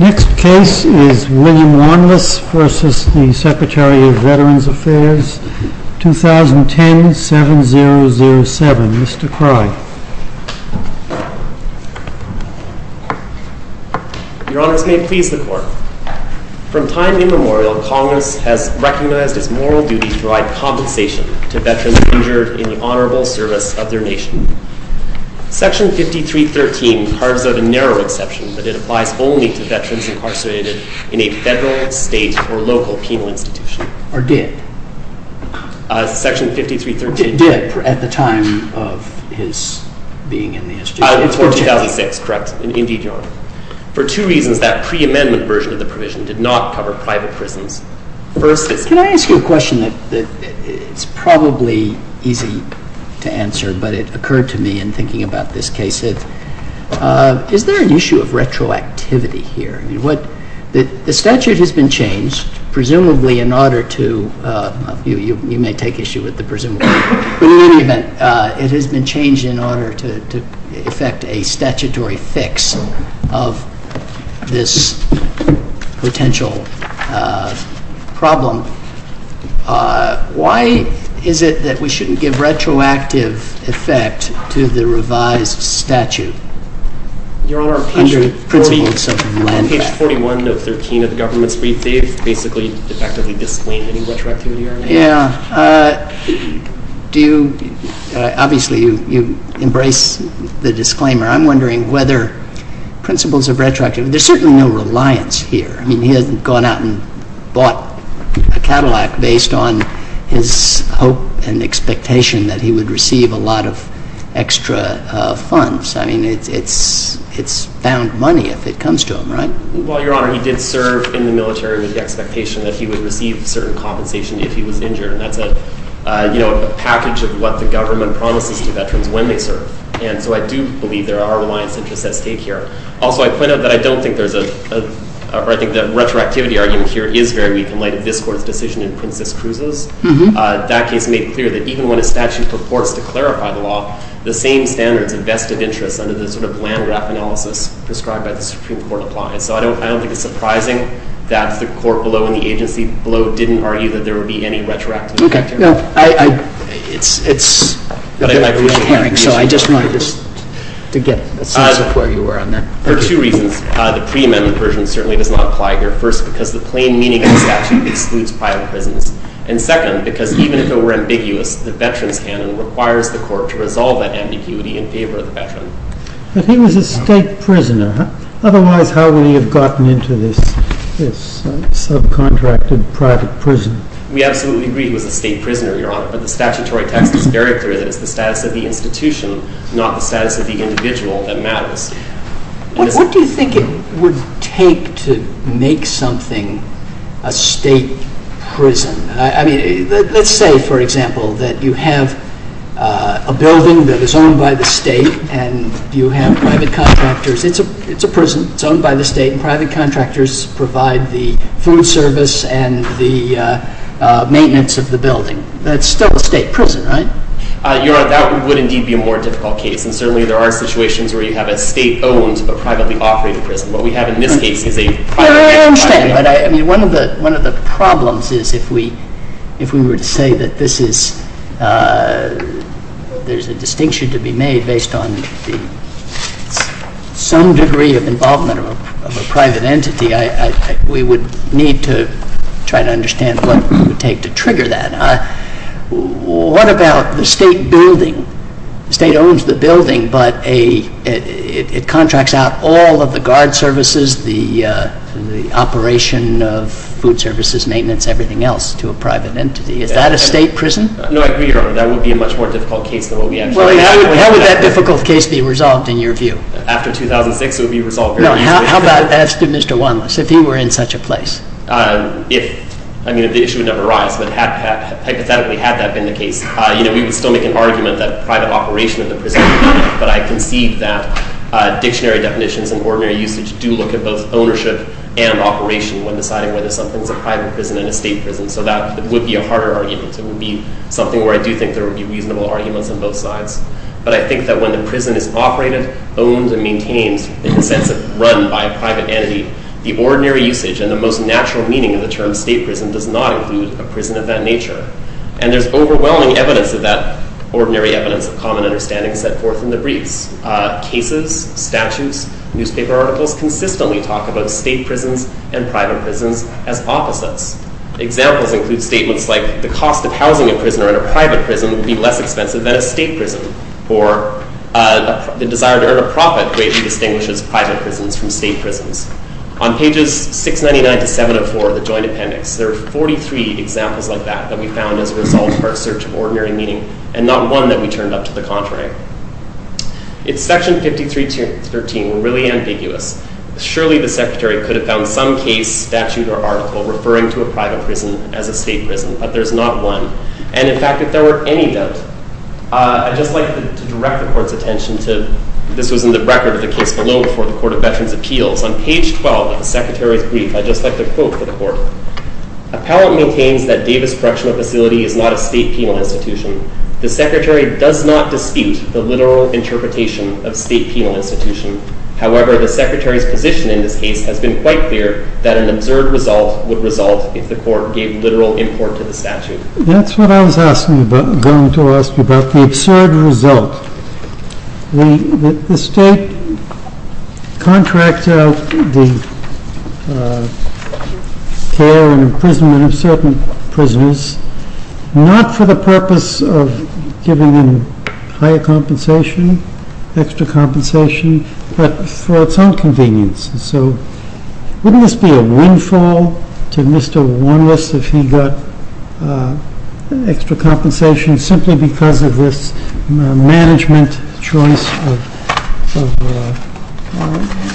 Next case is William Warmless v. Secretary of Veterans Affairs, 2010-7007. Mr. Crye. Your Honors, may it please the Court. From time immemorial, Congress has recognized its moral duty to provide compensation to veterans injured in the honorable service of their nation. Section 5313 carves out a narrow exception that it applies only to veterans incarcerated in a federal, state, or local penal institution. Or did. Section 5313 did. Did, at the time of his being in the institution. Before 2006, correct. Indeed, Your Honor. For two reasons, that pre-amendment version of the provision did not cover private prisons. Can I ask you a question that is probably easy to answer, but it occurred to me in thinking about this case. Is there an issue of retroactivity here? The statute has been changed, presumably in order to, you may take issue with the presumably, but in any event, it has been changed in order to effect a statutory fix of this potential problem. Why is it that we shouldn't give retroactive effect to the revised statute? Your Honor, on page 41 of 13 of the government's brief, they've basically effectively disclaimed any retroactivity. Yeah. Do you, obviously you embrace the disclaimer. I'm wondering whether principles of retroactive, there's certainly no reliance here. I mean, he hasn't gone out and bought a Cadillac based on his hope and expectation that he would receive a lot of extra funds. I mean, it's found money if it comes to him, right? Well, Your Honor, he did serve in the military with the expectation that he would receive certain compensation if he was injured. And that's a package of what the government promises to veterans when they serve. And so I do believe there are reliance interests at stake here. Also, I pointed out that I don't think there's a, or I think the retroactivity argument here is very weak in light of this court's decision in Princess Cruz's. That case made clear that even when a statute purports to clarify the law, the same standards of vested interests under the sort of land graph analysis prescribed by the Supreme Court apply. So I don't think it's surprising that the court below and the agency below didn't argue that there would be any retroactive effect here. Okay. No, I, it's, it's. So I just wanted to get a sense of where you were on that. For two reasons. The pre-amendment version certainly does not apply here. First, because the plain meaning of the statute excludes private prisons. And second, because even if it were ambiguous, the veterans canon requires the court to resolve that ambiguity in favor of the veteran. But he was a state prisoner. Otherwise, how would he have gotten into this, this subcontracted private prison? We absolutely agree he was a state prisoner, Your Honor. But the statutory text is very clear that it's the status of the institution, not the status of the individual, that matters. What do you think it would take to make something a state prison? I mean, let's say, for example, that you have a building that is owned by the state and you have private contractors. It's a, it's a prison. It's owned by the state and private contractors provide the food service and the maintenance of the building. That's still a state prison, right? Your Honor, that would indeed be a more difficult case. And certainly there are situations where you have a state-owned but privately operated prison. What we have in this case is a privately operated prison. Your Honor, I understand. But I, I mean, one of the, one of the problems is if we, if we were to say that this is, there's a distinction to be made based on the, some degree of involvement of a private entity, I, I, we would need to try to understand what it would take to trigger that. What about the state building? The state owns the building, but a, it, it contracts out all of the guard services, the, the operation of food services, maintenance, everything else to a private entity. Is that a state prison? No, I agree, Your Honor. That would be a much more difficult case than what we actually have. How would that difficult case be resolved in your view? After 2006, it would be resolved very easily. No, how, how about, ask Mr. Wanless, if he were in such a place. If, I mean, the issue would never arise, but had, had, hypothetically had that been the case, you know, we would still make an argument that private operation of the prison. But I concede that dictionary definitions and ordinary usage do look at both ownership and operation when deciding whether something's a private prison and a state prison. So that would be a harder argument. It would be something where I do think there would be reasonable arguments on both sides. But I think that when the prison is operated, owned, and maintained in the sense of run by a private entity, the ordinary usage and the most natural meaning of the term state prison does not include a prison of that nature. And there's overwhelming evidence of that ordinary evidence of common understanding set forth in the briefs. Cases, statutes, newspaper articles consistently talk about state prisons and private prisons as opposites. Examples include statements like, the cost of housing a prisoner in a private prison would be less expensive than a state prison, or the desire to earn a profit greatly distinguishes private prisons from state prisons. On pages 699 to 704 of the Joint Appendix, there are 43 examples like that that we found as a result of our search of ordinary meaning, and not one that we turned up to the contrary. If Section 53.13 were really ambiguous, surely the Secretary could have found some case, statute, or article referring to a private prison as a state prison. But there's not one. And in fact, if there were any doubt, I'd just like to direct the Court's attention to, this was in the record of the case below before the Court of Veterans' Appeals. On page 12 of the Secretary's brief, I'd just like to quote for the Court. Appellant maintains that Davis Correctional Facility is not a state penal institution. The Secretary does not dispute the literal interpretation of state penal institution. However, the Secretary's position in this case has been quite clear that an absurd result would result if the Court gave literal import to the statute. That's what I was going to ask you about, the absurd result. The State contracts out the care and imprisonment of certain prisoners, not for the purpose of giving them higher compensation, extra compensation, but for its own convenience. So wouldn't this be a windfall to Mr. Warnless if he got extra compensation simply because of this management choice of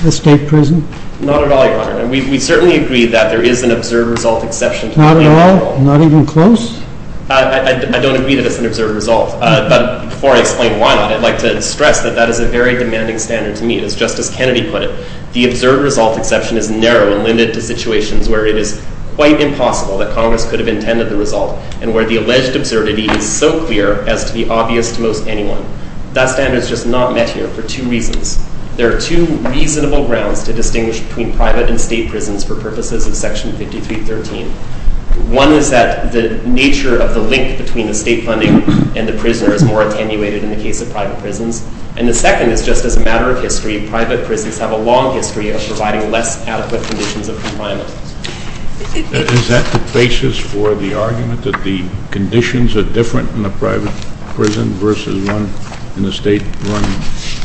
a state prison? Not at all, Your Honor. We certainly agree that there is an absurd result exception to the law. Not at all? Not even close? I don't agree that it's an absurd result. But before I explain why not, I'd like to stress that that is a very demanding standard to meet. As Justice Kennedy put it, the absurd result exception is narrow and limited to situations where it is quite impossible that Congress could have intended the result, and where the alleged absurdity is so clear as to be obvious to most anyone. That standard is just not met here for two reasons. There are two reasonable grounds to distinguish between private and state prisons for purposes of Section 5313. One is that the nature of the link between the state funding and the prisoner is more attenuated in the case of private prisons. And the second is just as a matter of history, private prisons have a long history of providing less adequate conditions of confinement. Is that the basis for the argument that the conditions are different in a private prison versus one in a state-run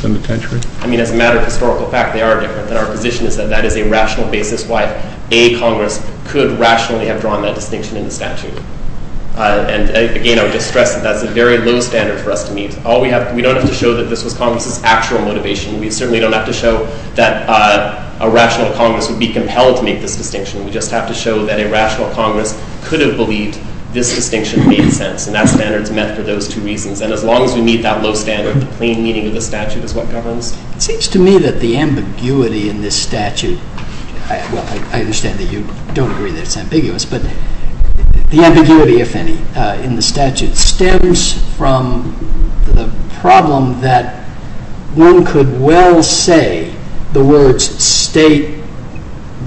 penitentiary? I mean, as a matter of historical fact, they are different. And our position is that that is a rational basis why a Congress could rationally have drawn that distinction in the statute. And, again, I would just stress that that's a very low standard for us to meet. We don't have to show that this was Congress's actual motivation. We certainly don't have to show that a rational Congress would be compelled to make this distinction. We just have to show that a rational Congress could have believed this distinction made sense. And that standard is met for those two reasons. And as long as we meet that low standard, the plain meaning of the statute is what governs. It seems to me that the ambiguity in this statute – well, I understand that you don't agree that it's ambiguous – the ambiguity, if any, in the statute stems from the problem that one could well say the words state,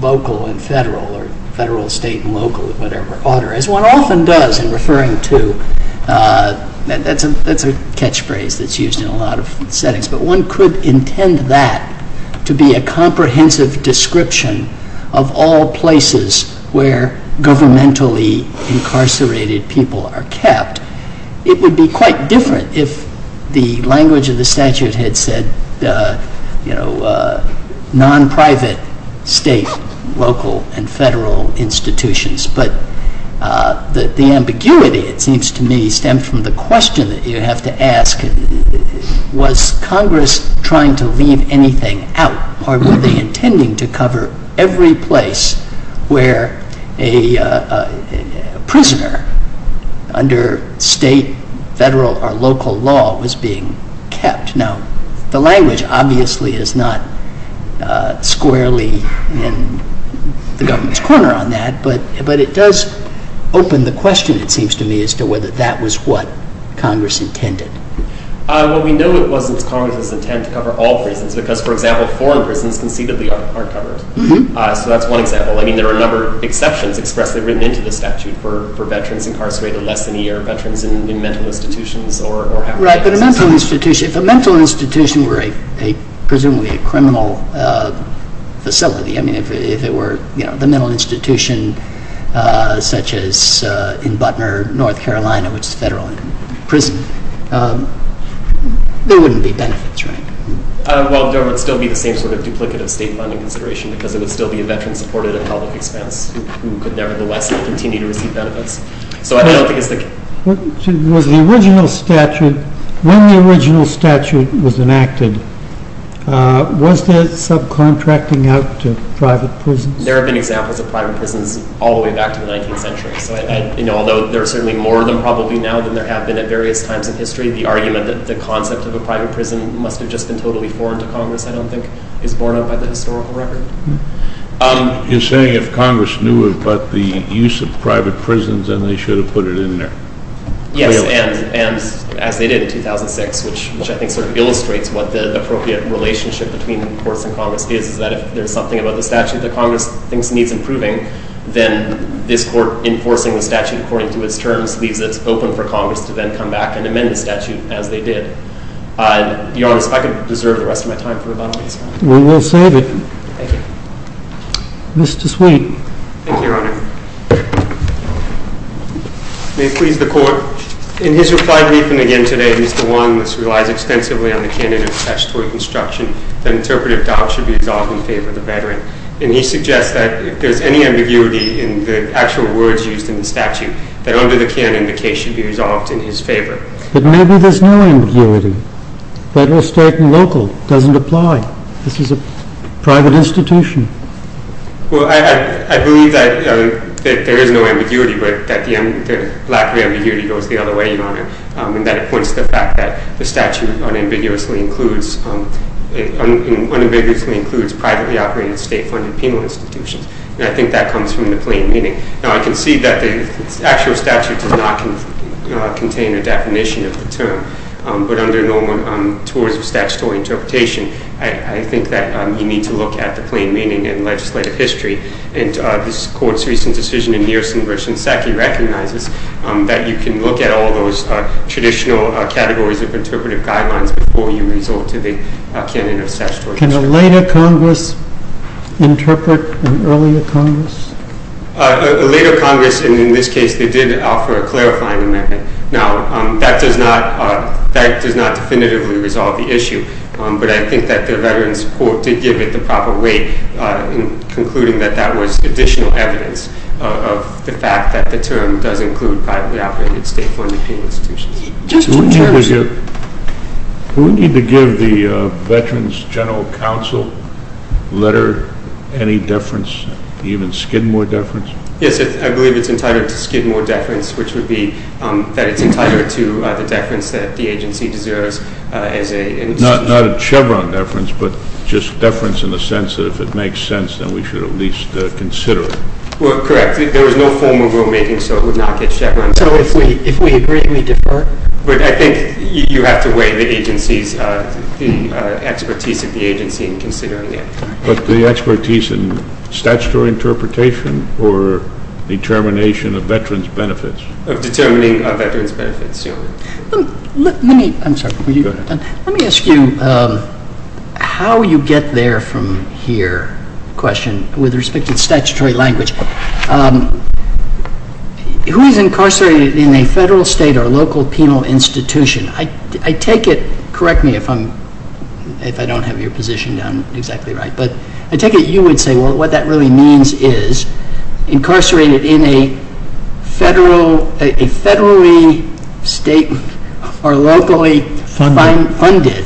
local, and federal, or federal, state, and local, or whatever order, as one often does in referring to – that's a catchphrase that's used in a lot of settings – but one could intend that to be a comprehensive description of all places where governmentally incarcerated people are kept. It would be quite different if the language of the statute had said, you know, non-private, state, local, and federal institutions. But the ambiguity, it seems to me, stems from the question that you have to ask, was Congress trying to leave anything out, or were they intending to cover every place where a prisoner under state, federal, or local law was being kept? Now, the language obviously is not squarely in the government's corner on that, but it does open the question, it seems to me, as to whether that was what Congress intended. Well, we know it wasn't Congress's intent to cover all prisons, because, for example, foreign prisons conceivably aren't covered. So that's one example. I mean, there are a number of exceptions expressly written into the statute for veterans incarcerated less than a year, veterans in mental institutions, or – Right, but a mental institution – if a mental institution were a, presumably, a criminal facility, I mean, if it were, you know, the mental institution, such as in Butner, North Carolina, which is a federal prison, there wouldn't be benefits, right? Well, there would still be the same sort of duplicative state funding consideration, because it would still be a veteran supported at public expense, who could nevertheless continue to receive benefits. So I don't think it's the – Was the original statute – when the original statute was enacted, was there subcontracting out to private prisons? There have been examples of private prisons all the way back to the 19th century. So, you know, although there are certainly more of them probably now than there have been at various times in history, the argument that the concept of a private prison must have just been totally foreign to Congress, I don't think, is borne out by the historical record. You're saying if Congress knew about the use of private prisons, then they should have put it in there? Yes, and as they did in 2006, which I think sort of illustrates what the appropriate relationship between courts and Congress is, is that if there's something about the statute that Congress thinks needs improving, then this court enforcing the statute according to its terms leaves it open for Congress to then come back and amend the statute as they did. To be honest, I could deserve the rest of my time for rebuttals. We will save it. Thank you. Mr. Sweet. Thank you, Your Honor. May it please the Court. In his reply briefing again today, Mr. Long, this relies extensively on the candidate's statutory construction, that interpretive docs should be resolved in favor of the veteran. And he suggests that if there's any ambiguity in the actual words used in the statute, that under the canon the case should be resolved in his favor. But maybe there's no ambiguity. Federal, state, and local doesn't apply. This is a private institution. Well, I believe that there is no ambiguity, but that the lack of ambiguity goes the other way, Your Honor, and that it points to the fact that the statute unambiguously includes privately operated, state-funded penal institutions. And I think that comes from the plain meaning. Now, I can see that the actual statute does not contain a definition of the term, but under Norman, towards the statutory interpretation, I think that you need to look at the plain meaning in legislative history. And this Court's recent decision in Niersen versus Sackey recognizes that you can look at all those traditional categories of interpretive guidelines before you resort to the canon of statutory construction. Can a later Congress interpret an earlier Congress? A later Congress, and in this case, they did offer a clarifying amendment. Now, that does not definitively resolve the issue. But I think that the Veterans Court did give it the proper weight in concluding that that was additional evidence of the fact that the term does include privately operated, state-funded penal institutions. Who would need to give the Veterans General Counsel letter any deference, even Skidmore deference? Yes, I believe it's entitled to Skidmore deference, which would be that it's entitled to the deference that the agency deserves as a institution. Not a Chevron deference, but just deference in the sense that if it makes sense, then we should at least consider it. Well, correct. There was no formal rulemaking, so it would not get Chevron deference. So if we agree, we defer? But I think you have to weigh the expertise of the agency in considering it. But the expertise in statutory interpretation or determination of veterans' benefits? Determining of veterans' benefits. Let me ask you how you get there from here, question, with respect to statutory language. Who is incarcerated in a federal, state, or local penal institution? Correct me if I don't have your position down exactly right, but I take it you would say, well, what that really means is incarcerated in a federally, state, or locally funded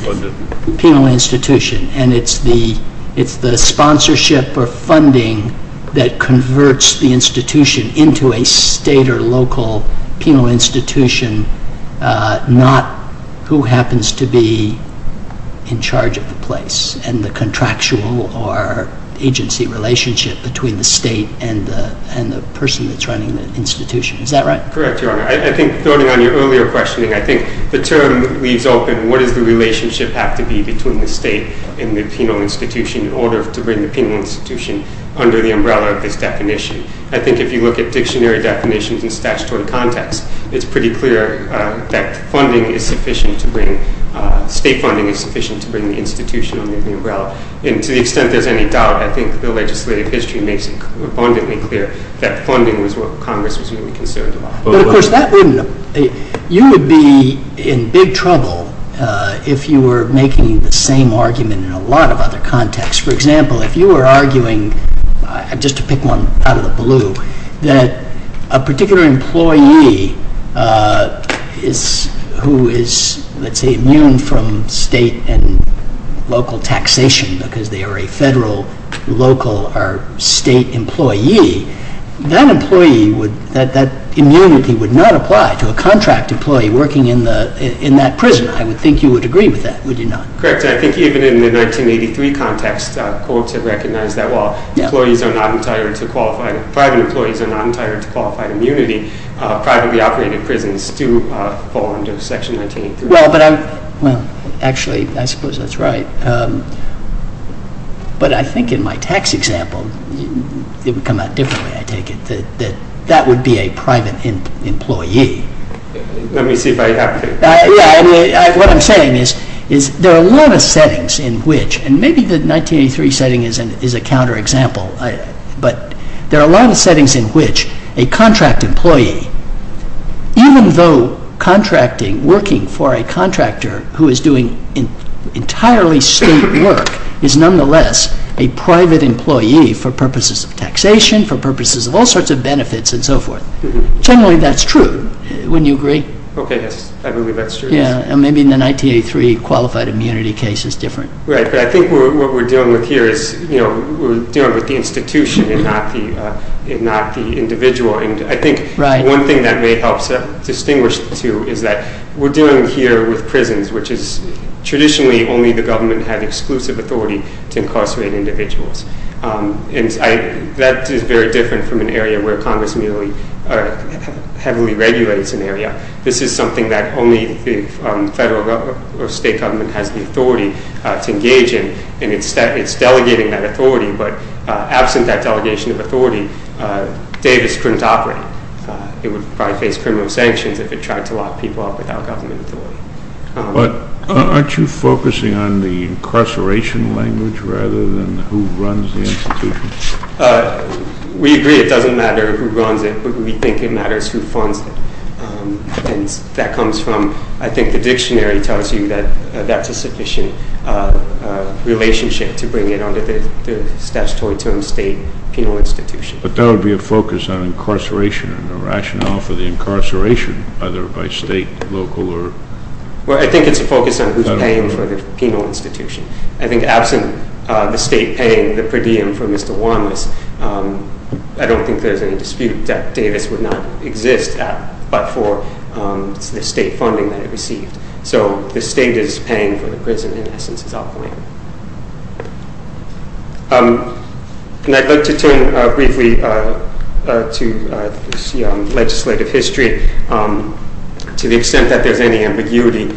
penal institution, and it's the sponsorship or funding that converts the institution into a state or local penal institution, not who happens to be in charge of the place and the contractual or agency relationship between the state and the person that's running the institution. Is that right? Correct, Your Honor. I think, throwing on your earlier questioning, I think the term leaves open, what does the relationship have to be between the state and the penal institution in order to bring the penal institution under the umbrella of this definition? I think if you look at dictionary definitions in statutory context, it's pretty clear that state funding is sufficient to bring the institution under the umbrella, and to the extent there's any doubt, I think the legislative history makes it abundantly clear that funding was what Congress was really concerned about. But, of course, you would be in big trouble if you were making the same argument in a lot of other contexts. For example, if you were arguing, just to pick one out of the blue, that a particular employee who is, let's say, immune from state and local taxation because they are a federal, local, or state employee, that immunity would not apply to a contract employee working in that prison. I would think you would agree with that, would you not? Correct. I think even in the 1983 context, courts have recognized that while private employees are not entitled to qualified immunity, privately operated prisons do fall under Section 1983. Well, actually, I suppose that's right. But I think in my tax example, it would come out differently, I take it, that that would be a private employee. Let me see if I have it. What I'm saying is there are a lot of settings in which, and maybe the 1983 setting is a counterexample, but there are a lot of settings in which a contract employee, even though working for a contractor who is doing entirely state work, is nonetheless a private employee for purposes of taxation, for purposes of all sorts of benefits, and so forth. Generally, that's true, wouldn't you agree? Okay, yes, I believe that's true, yes. Maybe in the 1983 qualified immunity case it's different. Right, but I think what we're dealing with here is we're dealing with the institution and not the individual. I think one thing that may help to distinguish the two is that we're dealing here with prisons, which is traditionally only the government had exclusive authority to incarcerate individuals. That is very different from an area where Congress heavily regulates an area. This is something that only the federal or state government has the authority to engage in, and it's delegating that authority. But absent that delegation of authority, Davis couldn't operate. It would probably face criminal sanctions if it tried to lock people up without government authority. But aren't you focusing on the incarceration language rather than who runs the institution? We agree it doesn't matter who runs it, but we think it matters who funds it. And that comes from, I think the dictionary tells you that that's a sufficient relationship to bring it under the statutory term state penal institution. But that would be a focus on incarceration and the rationale for the incarceration, either by state, local, or federal? Well, I think it's a focus on who's paying for the penal institution. I think absent the state paying the per diem for Mr. Wanless, I don't think there's any dispute that Davis would not exist but for the state funding that it received. So the state is paying for the prison, in essence, as I'll point out. And I'd like to turn briefly to legislative history. To the extent that there's any ambiguity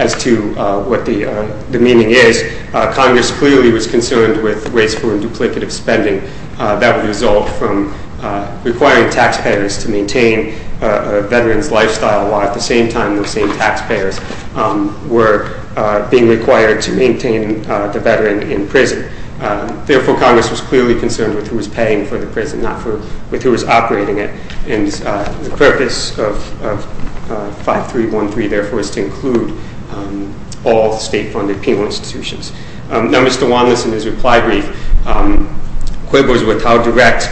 as to what the meaning is, Congress clearly was concerned with wasteful and duplicative spending that would result from requiring taxpayers to maintain a veteran's lifestyle while at the same time those same taxpayers were being required to maintain the veteran in prison. Therefore, Congress was clearly concerned with who was paying for the prison, not with who was operating it. And the purpose of 5313, therefore, is to include all state-funded penal institutions. Now, Mr. Wanless, in his reply brief, quibbles with how direct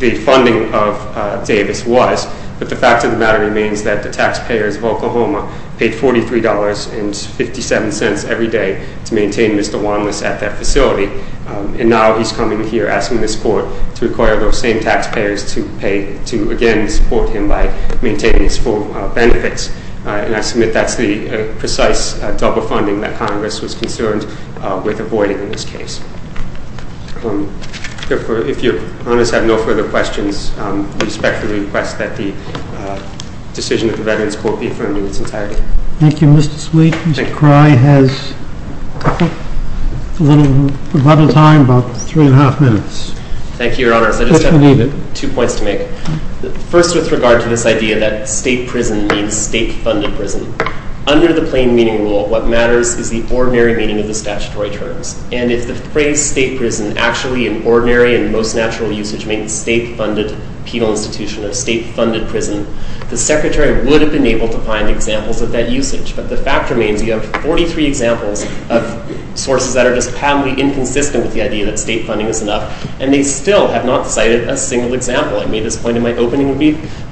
the funding of Davis was, but the fact of the matter remains that the taxpayers of Oklahoma paid $43.57 every day to maintain Mr. Wanless at that facility. And now he's coming here asking this court to require those same taxpayers to pay to, again, support him by maintaining his full benefits. And I submit that's the precise double funding that Congress was concerned with avoiding in this case. Therefore, if your honors have no further questions, we respectfully request that the decision of the veterans court be affirmed in its entirety. Thank you, Mr. Sweet. Thank you. Mr. Cry has a little time, about three and a half minutes. Thank you, your honors. I just have two points to make. First, with regard to this idea that state prison means state-funded prison, under the plain meaning rule, what matters is the ordinary meaning of the statutory terms. And if the phrase state prison actually, in ordinary and most natural usage, means state-funded penal institution or state-funded prison, the secretary would have been able to find examples of that usage. But the fact remains you have 43 examples of sources that are just patently inconsistent with the idea that state funding is enough, and they still have not cited a single example. I made this point in my opening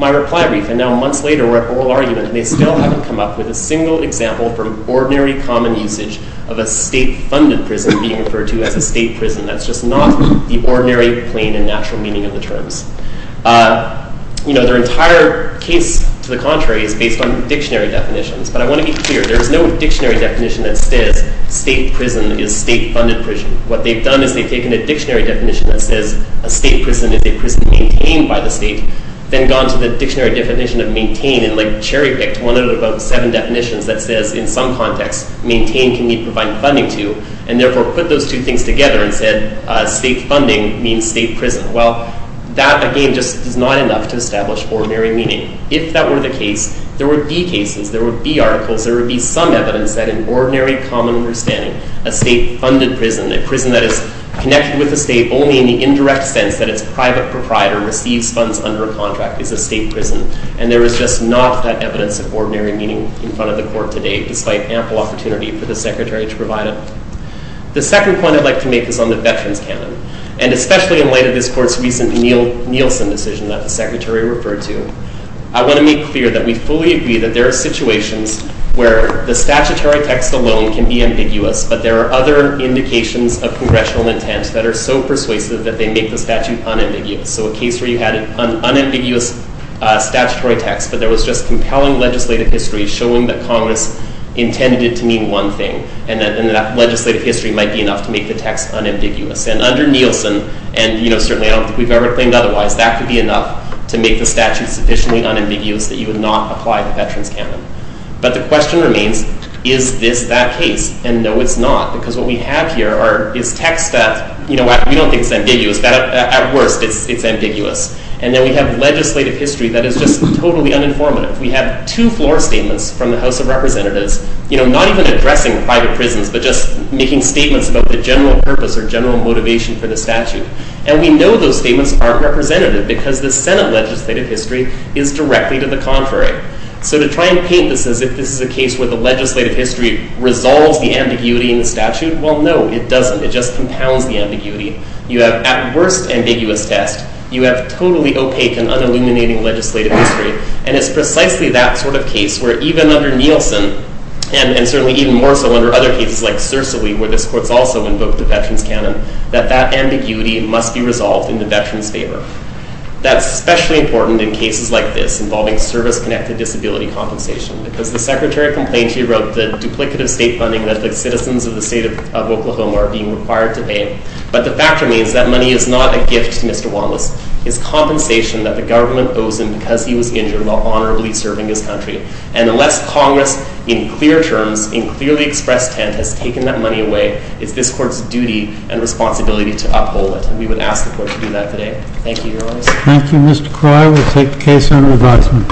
reply brief, and now months later we're at oral argument, and they still haven't come up with a single example from ordinary common usage of a state-funded prison being referred to as a state prison. That's just not the ordinary, plain, and natural meaning of the terms. Their entire case, to the contrary, is based on dictionary definitions. But I want to be clear. There is no dictionary definition that says state prison is state-funded prison. What they've done is they've taken a dictionary definition that says a state prison is a prison maintained by the state, then gone to the dictionary definition of maintain and, like, cherry-picked one out of about seven definitions that says, in some context, maintain can mean providing funding to, and therefore put those two things together and said state funding means state prison. Well, that, again, just is not enough to establish ordinary meaning. If that were the case, there would be cases, there would be articles, there would be some evidence that an ordinary common understanding, a state-funded prison, a prison that is connected with the state only in the indirect sense that its private proprietor receives funds under a contract is a state prison, and there is just not that evidence of ordinary meaning in front of the Court today, despite ample opportunity for the Secretary to provide it. The second point I'd like to make is on the veterans canon, and especially in light of this Court's recent Nielsen decision that the Secretary referred to. I want to make clear that we fully agree that there are situations where the statutory text alone can be ambiguous, but there are other indications of Congressional intent that are so persuasive that they make the statute unambiguous. So a case where you had an unambiguous statutory text, but there was just compelling legislative history showing that Congress intended it to mean one thing, and that legislative history might be enough to make the text unambiguous. And under Nielsen, and, you know, certainly I don't think we've ever claimed otherwise, that could be enough to make the statute sufficiently unambiguous that you would not apply the veterans canon. But the question remains, is this that case? And no, it's not, because what we have here is text that, you know, we don't think is ambiguous. At worst, it's ambiguous. And then we have legislative history that is just totally uninformative. We have two-floor statements from the House of Representatives, you know, not even addressing private prisons, but just making statements about the general purpose or general motivation for the statute. And we know those statements aren't representative, because the Senate legislative history is directly to the contrary. So to try and paint this as if this is a case where the legislative history resolves the ambiguity in the statute, well, no, it doesn't. It just compounds the ambiguity. You have, at worst, ambiguous text. You have totally opaque and unilluminating legislative history. And it's precisely that sort of case where even under Nielsen, and certainly even more so under other cases like Sersily, where this court's also invoked the veterans canon, that that ambiguity must be resolved in the veterans' favor. That's especially important in cases like this involving service-connected disability compensation, because the Secretary of Complaints, he wrote the duplicative state funding that the citizens of the state of Oklahoma are being required to pay. But the fact remains that money is not a gift to Mr. Wallace. It's compensation that the government owes him because he was injured while honorably serving his country. And unless Congress, in clear terms, in clearly expressed intent, has taken that money away, it's this court's duty and responsibility to uphold it. And we would ask the court to do that today. Thank you, Your Honor. Thank you, Mr. Croy. We'll take the case under advisement.